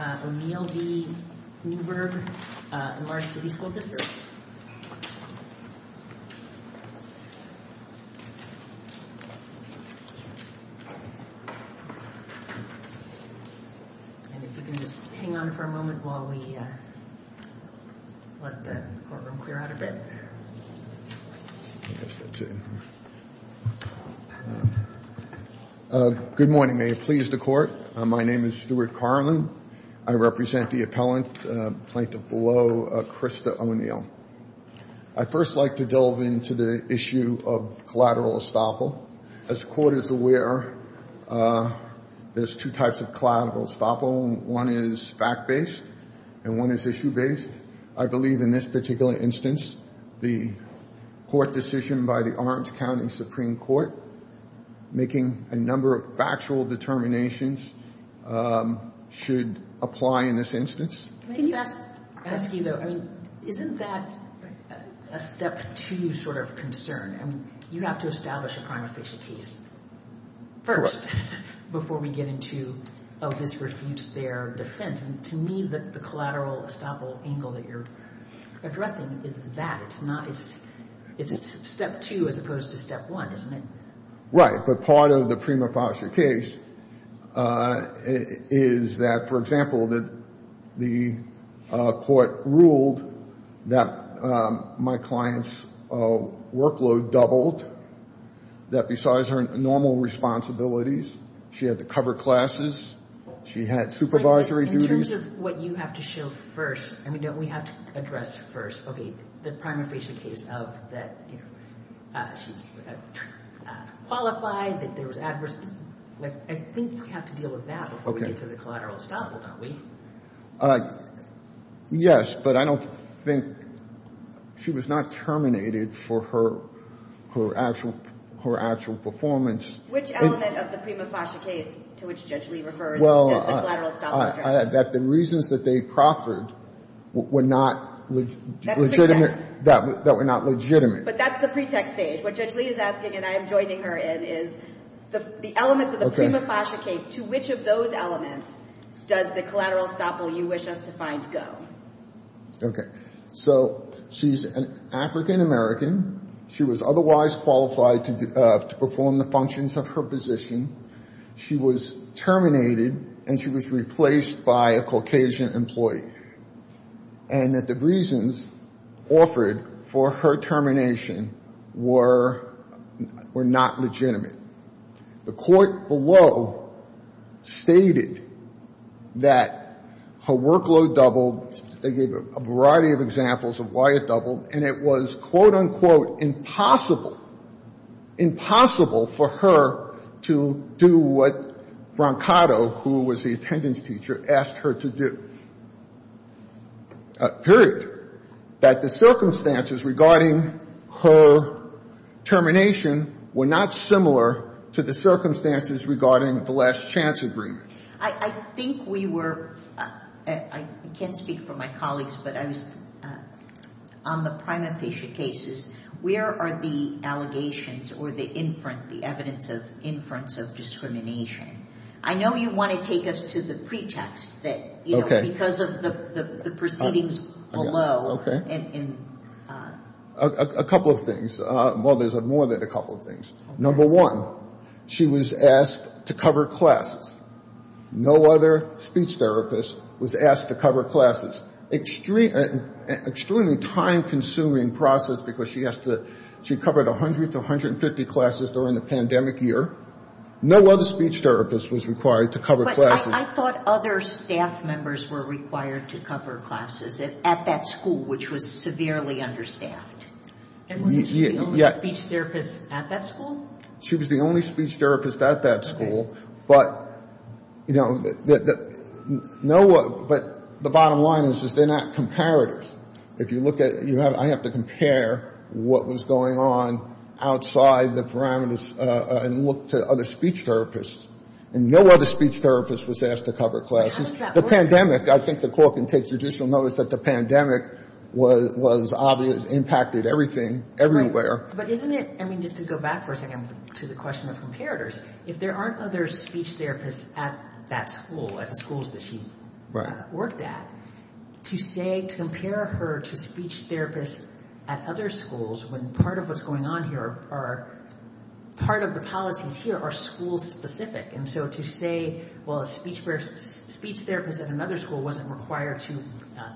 And if you can just hang on for a moment while we let the courtroom clear out a bit. I guess that's it. Good morning, may it please the Court. My name is Stephen Smith. My name is Stuart Carlin. I represent the appellant plaintiff below, Krista O'Neill. I'd first like to delve into the issue of collateral estoppel. As the Court is aware, there's two types of collateral estoppel. One is fact-based and one is issue-based. I believe in this particular instance, the court decision by the Orange County Supreme Court, making a number of factual determinations, should apply in this instance. Can I just ask you, though, I mean, isn't that a step-two sort of concern? I mean, you have to establish a prime official case first before we get into, oh, this refutes their defense. And to me, the collateral estoppel angle that you're addressing is that. It's step two as opposed to step one, isn't it? Right, but part of the prima facie case is that, for example, that the court ruled that my client's workload doubled, that besides her normal responsibilities, she had to cover classes, she had supervisory duties. In terms of what you have to show first, I mean, don't we have to address first, okay, the prima facie case of that she's qualified, that there was adverse, I think we have to deal with that before we get to the collateral estoppel, don't we? Yes, but I don't think she was not terminated for her actual performance. Which element of the prima facie case to which Judge Lee refers as the collateral estoppel address? That the reasons that they proffered were not legitimate. That were not legitimate. But that's the pretext stage. What Judge Lee is asking, and I am joining her in, is the elements of the prima facie case, to which of those elements does the collateral estoppel you wish us to find go? Okay. So she's an African-American. She was otherwise qualified to perform the functions of her position. She was terminated and she was replaced by a Caucasian employee. And that the reasons offered for her termination were not legitimate. The court below stated that her workload doubled. They gave a variety of examples of why it doubled. And it was, quote, unquote, impossible, impossible for her to do what Brancato, who was the attendance teacher, asked her to do. Period. That the circumstances regarding her termination were not similar to the circumstances regarding the last chance agreement. I think we were, I can't speak for my colleagues, but I was, on the prima facie cases, where are the allegations or the inference, the evidence of inference of discrimination? I know you want to take us to the pretext that, you know, because of the proceedings below. A couple of things. Well, there's more than a couple of things. Number one, she was asked to cover classes. No other speech therapist was asked to cover classes. Extremely time-consuming process because she has to, she covered 100 to 150 classes during the pandemic year. No other speech therapist was required to cover classes. But I thought other staff members were required to cover classes at that school, which was severely understaffed. And wasn't she the only speech therapist at that school? She was the only speech therapist at that school. But, you know, no one, but the bottom line is they're not comparative. If you look at, I have to compare what was going on outside the parameters and look to other speech therapists. And no other speech therapist was asked to cover classes. The pandemic, I think the court can take judicial notice that the pandemic was obvious, impacted everything, everywhere. But isn't it, I mean, just to go back for a second to the question of comparators, if there aren't other speech therapists at that school, at the schools that she worked at, to say, to compare her to speech therapists at other schools when part of what's going on here are part of the policies here are school-specific. And so to say, well, a speech therapist at another school wasn't required to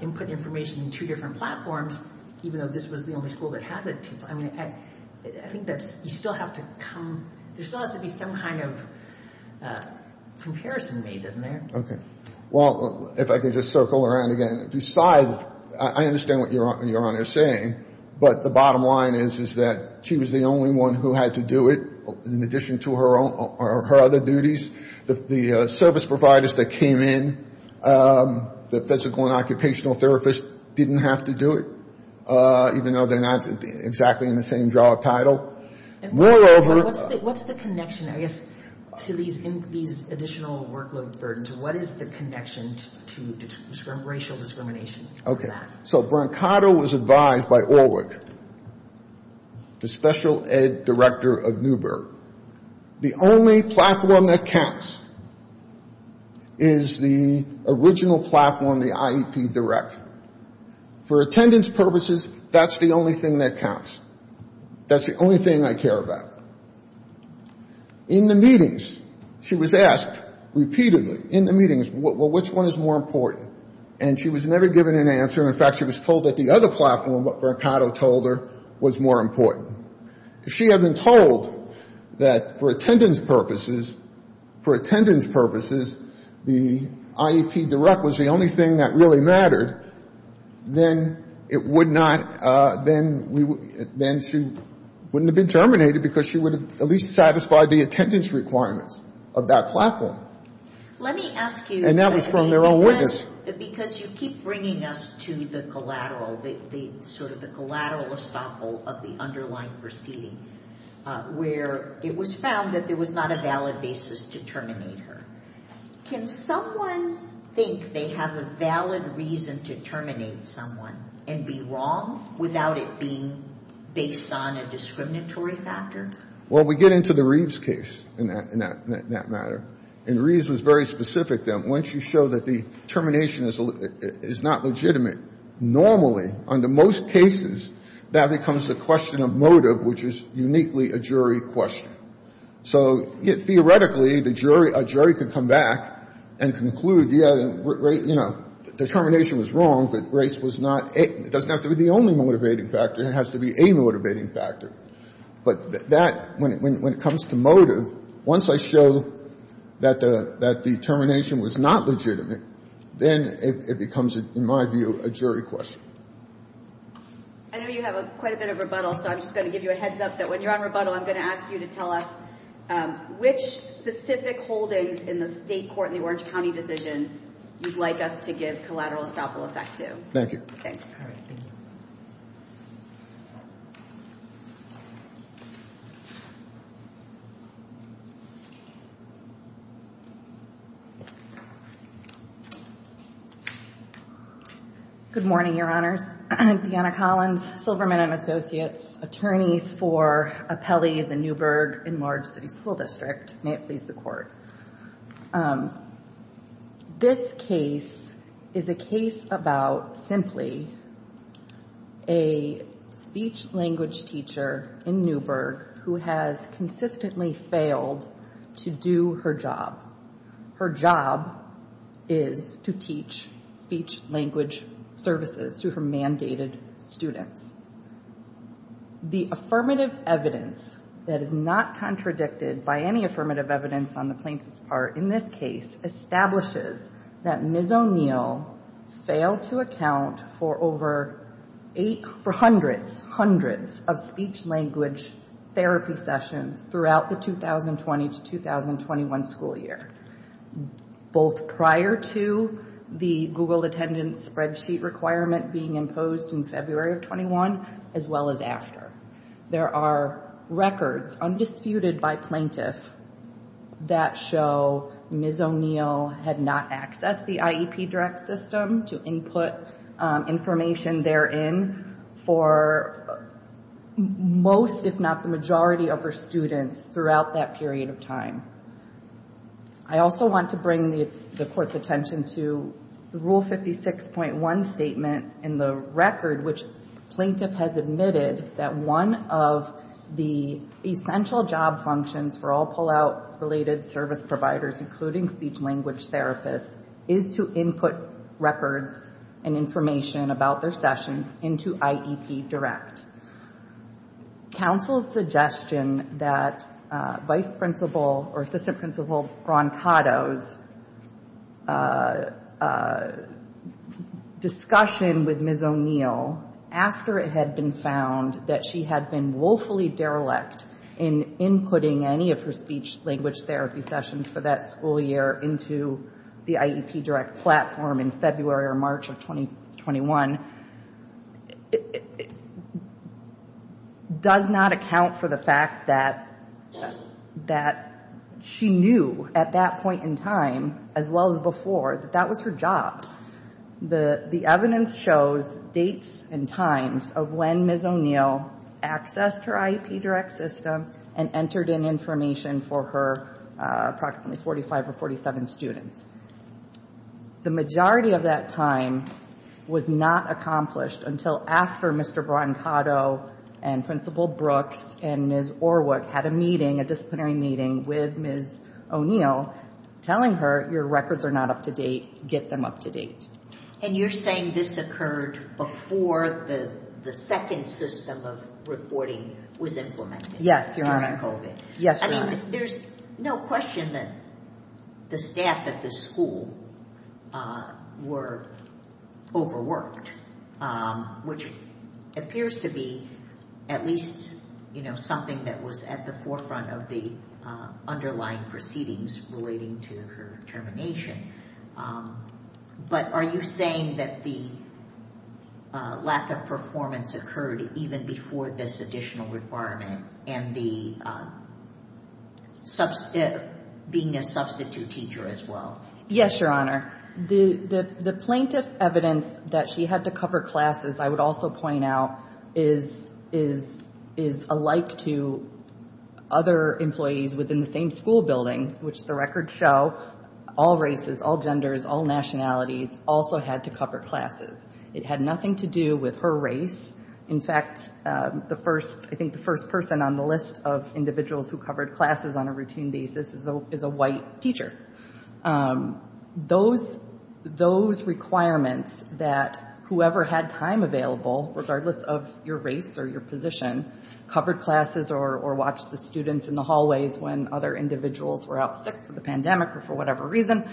input information in two different platforms, even though this was the only school that had the two. I mean, I think that you still have to come, there still has to be some kind of comparison made, doesn't there? Okay. Well, if I could just circle around again. Besides, I understand what Your Honor is saying, but the bottom line is, is that she was the only one who had to do it in addition to her other duties. The service providers that came in, the physical and occupational therapists, didn't have to do it, even though they're not exactly in the same job title. What's the connection, I guess, to these additional workload burdens? What is the connection to racial discrimination? So Brancato was advised by Orwick, the special ed director of Newberg, the only platform that counts is the original platform, the IEP direct. For attendance purposes, that's the only thing that counts. That's the only thing I care about. In the meetings, she was asked repeatedly, in the meetings, well, which one is more important? And she was never given an answer. In fact, she was told that the other platform, what Brancato told her, was more important. If she had been told that for attendance purposes, for attendance purposes, the IEP direct was the only thing that really mattered, then it would not, then she wouldn't have been terminated because she would have at least satisfied the attendance requirements of that platform. Let me ask you. And that was from their own witness. Because you keep bringing us to the collateral, sort of the collateral estoppel of the underlying proceeding, where it was found that there was not a valid basis to terminate her. Can someone think they have a valid reason to terminate someone and be wrong without it being based on a discriminatory factor? Well, we get into the Reeves case in that matter. And Reeves was very specific then. Once you show that the termination is not legitimate, normally, under most cases, that becomes the question of motive, which is uniquely a jury question. So theoretically, a jury could come back and conclude, yeah, you know, the termination was wrong, but Grace was not, it doesn't have to be the only motivating factor, it has to be a motivating factor. But that, when it comes to motive, once I show that the termination was not legitimate, then it becomes, in my view, a jury question. I know you have quite a bit of rebuttal, so I'm just going to give you a heads up that when you're on rebuttal, I'm going to ask you to tell us which specific holdings in the state court in the Orange County decision you'd like us to give collateral estoppel effect to. Thank you. Thanks. Good morning, Your Honors. Deanna Collins, Silverman & Associates, attorneys for Apelli, the Newburgh Enlarged City School District. May it please the Court. This case is a case about simply a speech-language teacher in Newburgh who has consistently failed to do her job. Her job is to teach speech-language services to her mandated students. The affirmative evidence that is not contradicted by any affirmative evidence on the plaintiff's part in this case establishes that Ms. O'Neill failed to account for over hundreds of speech-language therapy sessions throughout the 2020-2021 school year, both prior to the Google Attendance Spreadsheet requirement being imposed in February of 2021, as well as after. There are records, undisputed by plaintiff, that show Ms. O'Neill had not accessed the IEP direct system to input information therein for most, if not the majority, of her students throughout that period of time. I also want to bring the Court's attention to the Rule 56.1 statement in the record, which plaintiff has admitted that one of the essential job functions for all pull-out-related service providers, including speech-language therapists, is to input records and information about their sessions into IEP direct. Counsel's suggestion that Vice Principal, or Assistant Principal, Broncato's discussion with Ms. O'Neill after it had been found that she had been woefully derelict in inputting any of her speech-language therapy sessions for that school year into the IEP direct platform in February or March of 2021, does not account for the fact that she knew at that point in time, as well as before, that that was her job. The evidence shows dates and times of when Ms. O'Neill accessed her IEP direct system and entered in information for her approximately 45 or 47 students. The majority of that time was not accomplished until after Mr. Broncato and Principal Brooks and Ms. Orwick had a meeting, a disciplinary meeting, with Ms. O'Neill telling her, your records are not up to date, get them up to date. And you're saying this occurred before the second system of reporting was implemented? Yes, Your Honor. During COVID? Yes, Your Honor. There's no question that the staff at the school were overworked, which appears to be at least something that was at the forefront of the underlying proceedings relating to her termination. But are you saying that the lack of performance occurred even before this additional requirement and being a substitute teacher as well? Yes, Your Honor. The plaintiff's evidence that she had to cover classes, I would also point out, is alike to other employees within the same school building, which the records show, all races, all genders, all nationalities also had to cover classes. It had nothing to do with her race. In fact, I think the first person on the list of individuals who covered classes on a routine basis is a white teacher. Those requirements that whoever had time available, regardless of your race or your position, covered classes or watched the students in the hallways when other individuals were out sick from the pandemic or for whatever reason,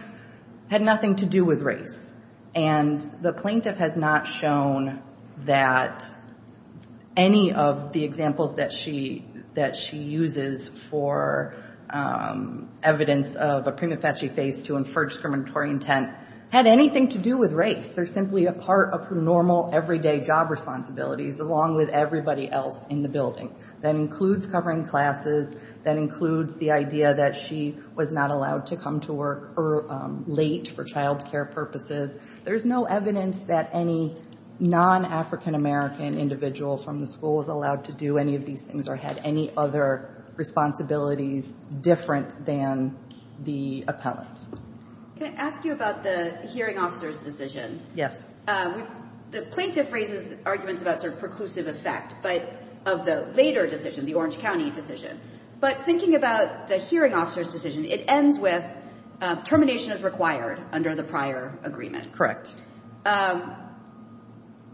had nothing to do with race. And the plaintiff has not shown that any of the examples that she uses for evidence of a prima facie case to infer discriminatory intent had anything to do with race. They're simply a part of her normal, everyday job responsibilities, along with everybody else in the building. That includes covering classes. That includes the idea that she was not allowed to come to work late for child care purposes. There's no evidence that any non-African American individual from the school was allowed to do any of these things or had any other responsibilities different than the appellants. Can I ask you about the hearing officer's decision? Yes. The plaintiff raises arguments about sort of preclusive effect of the later decision, the Orange County decision. But thinking about the hearing officer's decision, it ends with termination is required under the prior agreement.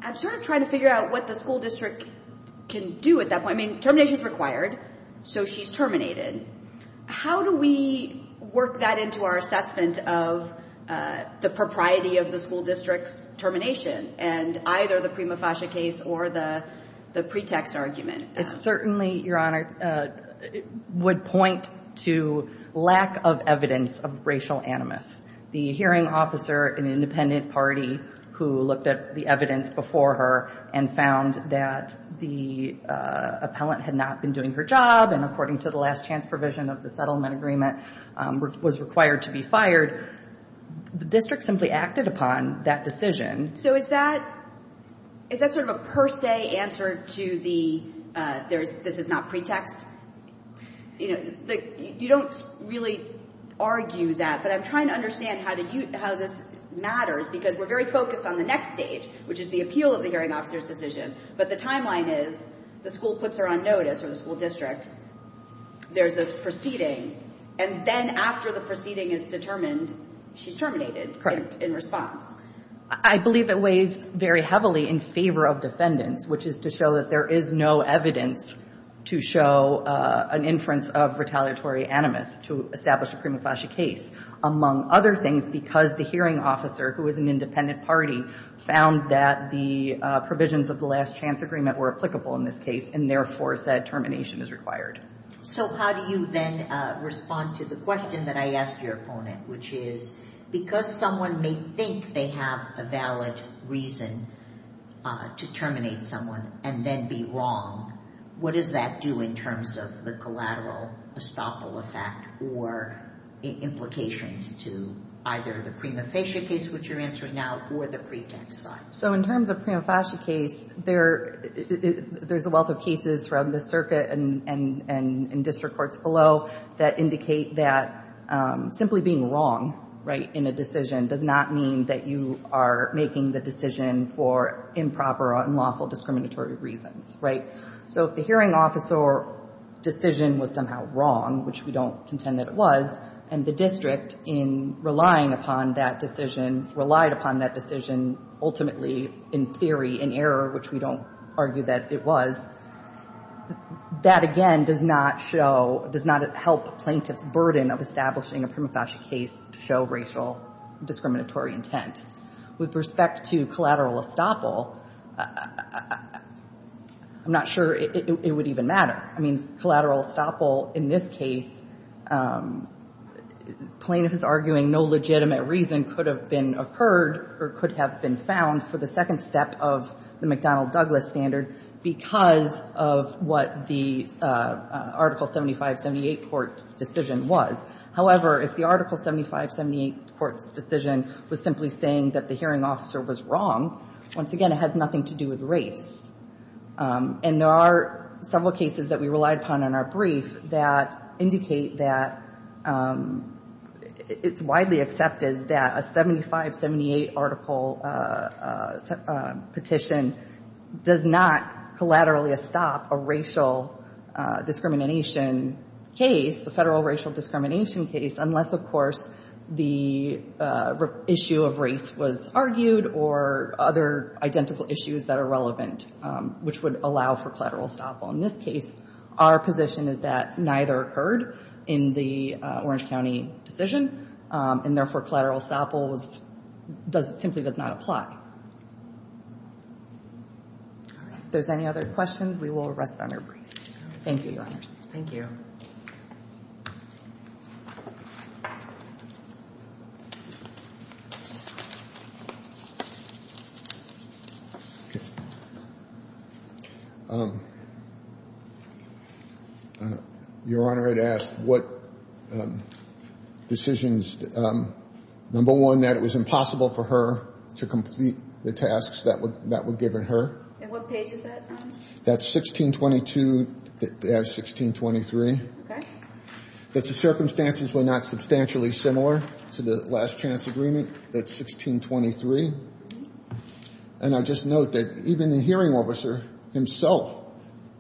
I'm sort of trying to figure out what the school district can do at that point. I mean, termination is required, so she's terminated. How do we work that into our assessment of the propriety of the school district's termination and either the prima facie case or the pretext argument? It certainly, Your Honor, would point to lack of evidence of racial animus. The hearing officer, an independent party who looked at the evidence before her and found that the appellant had not been doing her job and according to the last chance provision of the settlement agreement was required to be fired, the district simply acted upon that decision. So is that sort of a per se answer to the this is not pretext? You don't really argue that, but I'm trying to understand how this matters because we're very focused on the next stage, which is the appeal of the hearing officer's decision. But the timeline is the school puts her on notice or the school district. There's this proceeding, and then after the proceeding is determined, she's terminated in response. I believe it weighs very heavily in favor of defendants, which is to show that there is no evidence to show an inference of retaliatory animus to establish a prima facie case. Among other things, because the hearing officer, who is an independent party, found that the provisions of the last chance agreement were applicable in this case and therefore said termination is required. So how do you then respond to the question that I asked your opponent, which is because someone may think they have a valid reason to terminate someone and then be wrong, what does that do in terms of the collateral estoppel effect or implications to either the prima facie case, which you're answering now, or the pretext side? So in terms of prima facie case, there's a wealth of cases from the circuit and district courts below that indicate that simply being wrong in a decision does not mean that you are making the decision for improper or unlawful discriminatory reasons. So if the hearing officer's decision was somehow wrong, which we don't contend that it was, and the district, in relying upon that decision, relied upon that decision ultimately in theory, in error, which we don't argue that it was, that again does not show, does not help plaintiff's burden of establishing a prima facie case to show racial discriminatory intent. With respect to collateral estoppel, I'm not sure it would even matter. I mean, collateral estoppel in this case, plaintiff is arguing no legitimate reason could have been occurred or could have been found for the second step of the McDonnell-Douglas standard because of what the Article 7578 court's decision was. However, if the Article 7578 court's decision was simply saying that the hearing officer was wrong, once again, it has nothing to do with race. And there are several cases that we relied upon in our brief that indicate that it's widely accepted that a 7578 article petition does not collaterally estop a racial discrimination case, a federal racial discrimination case, unless, of course, the issue of race was argued or other identical issues that are relevant, which would allow for collateral estoppel. In this case, our position is that neither occurred in the Orange County decision, and therefore collateral estoppel simply does not apply. If there's any other questions, we will rest on our brief. Thank you, Your Honors. Thank you. Your Honor, I'd ask what decisions, number one, that it was impossible for her to complete the tasks that were given her. And what page is that? That's 1622. That's 1623. That the circumstances were not substantially similar to the last chance agreement. That's 1623. And I just note that even the hearing officer himself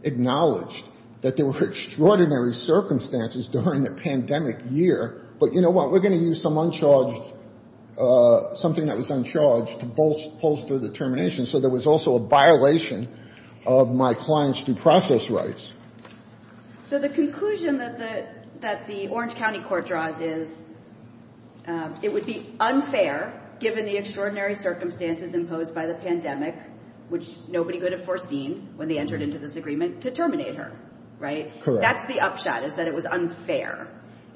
acknowledged that there were extraordinary circumstances during the pandemic year. But you know what? We're going to use some uncharged, something that was uncharged to bolster determination. So there was also a violation of my client's due process rights. So the conclusion that the Orange County court draws is it would be unfair, given the extraordinary circumstances imposed by the pandemic, which nobody could have foreseen when they entered into this agreement, to terminate her, right? Correct. That's the upshot, is that it was unfair.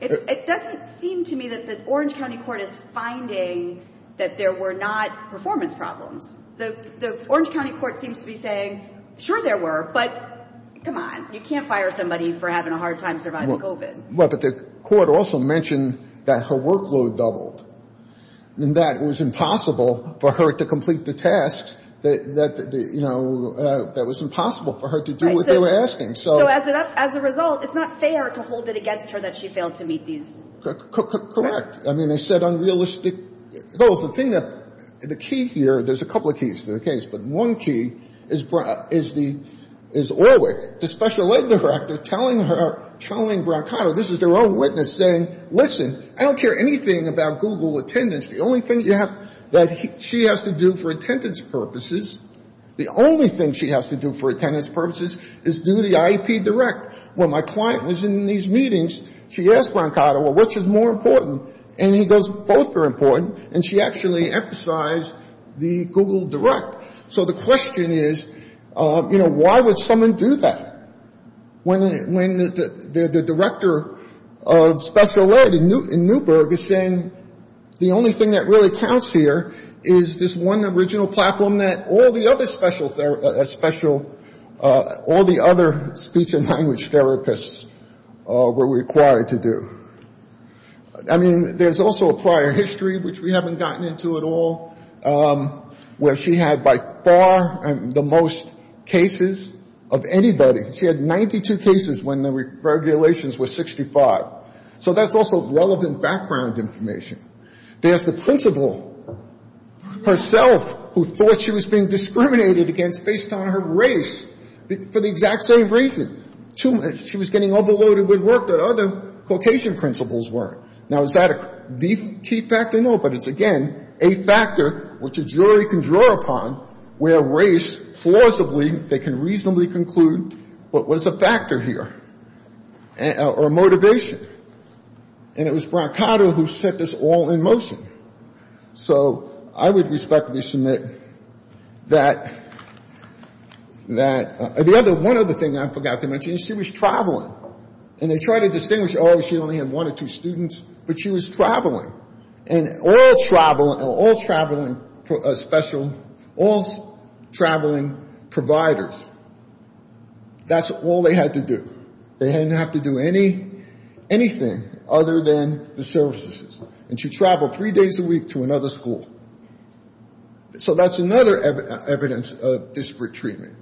It doesn't seem to me that the Orange County court is finding that there were not performance problems. The Orange County court seems to be saying, sure, there were. But come on. You can't fire somebody for having a hard time surviving COVID. But the court also mentioned that her workload doubled and that it was impossible for her to complete the tasks that, you know, that was impossible for her to do what they were asking. So as a result, it's not fair to hold it against her that she failed to meet these. Correct. I mean, they set unrealistic goals. The key here, there's a couple of keys to the case, but one key is Orwick, the special ed director, telling her, telling Brancato, this is their own witness, saying, listen, I don't care anything about Google attendance. The only thing that she has to do for attendance purposes, the only thing she has to do for attendance purposes is do the IEP direct. When my client was in these meetings, she asked Brancato, well, which is more important? And he goes, both are important. And she actually emphasized the Google direct. So the question is, you know, why would someone do that when the director of special ed in Newburgh is saying the only thing that really counts here is this one original platform that all the other special, all the other speech and language therapists were required to do. I mean, there's also a prior history, which we haven't gotten into at all, where she had by far the most cases of anybody. She had 92 cases when the regulations were 65. So that's also relevant background information. There's the principal herself who thought she was being discriminated against based on her race for the exact same reason. She was getting overloaded with work that other Caucasian principals weren't. Now, is that the key factor? No, but it's, again, a factor which a jury can draw upon where race, plausibly, they can reasonably conclude what was a factor here or a motivation. And it was Brancato who set this all in motion. So I would respectfully submit that the other one other thing I forgot to mention, she was traveling. And they try to distinguish, oh, she only had one or two students, but she was traveling. And all traveling special, all traveling providers, that's all they had to do. They didn't have to do anything other than the services. And she traveled three days a week to another school. So that's another evidence of disparate treatment.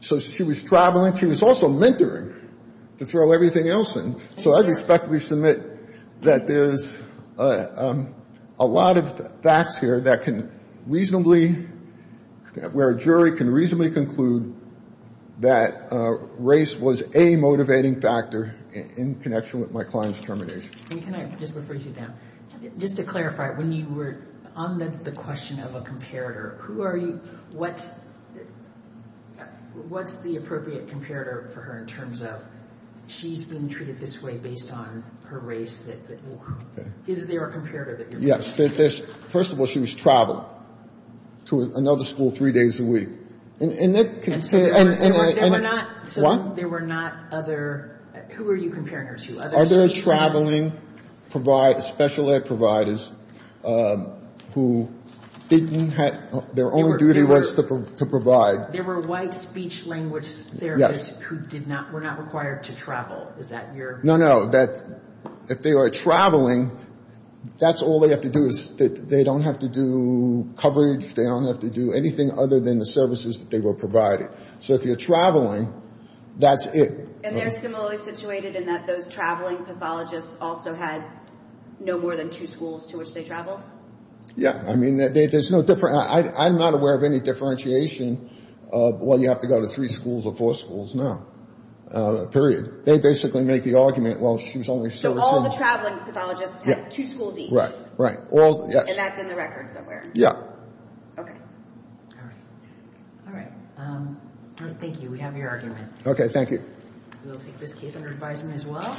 So she was traveling. She was also mentoring, to throw everything else in. So I respectfully submit that there's a lot of facts here that can reasonably, where a jury can reasonably conclude that race was a motivating factor in connection with my client's determination. And can I just refer you to them? Just to clarify, when you were on the question of a comparator, who are you, what's the appropriate comparator for her in terms of she's being treated this way based on her race? Is there a comparator that you're looking for? Yes. First of all, she was traveling to another school three days a week. And there were not other, who were you comparing her to? Other traveling special ed providers who didn't have, their only duty was to provide. There were white speech language therapists who did not, were not required to travel. Is that your? No, no. If they are traveling, that's all they have to do is, they don't have to do coverage. They don't have to do anything other than the services that they were provided. So if you're traveling, that's it. And they're similarly situated in that those traveling pathologists also had no more than two schools to which they traveled? Yeah. I mean, there's no different, I'm not aware of any differentiation of, well, you have to go to three schools or four schools now, period. They basically make the argument, well, she was only servicing. So all the traveling pathologists had two schools each? Right, right. And that's in the record somewhere? Yeah. Okay. All right. All right. Thank you. We have your argument. Okay. Thank you. We'll take this case under advisement as well.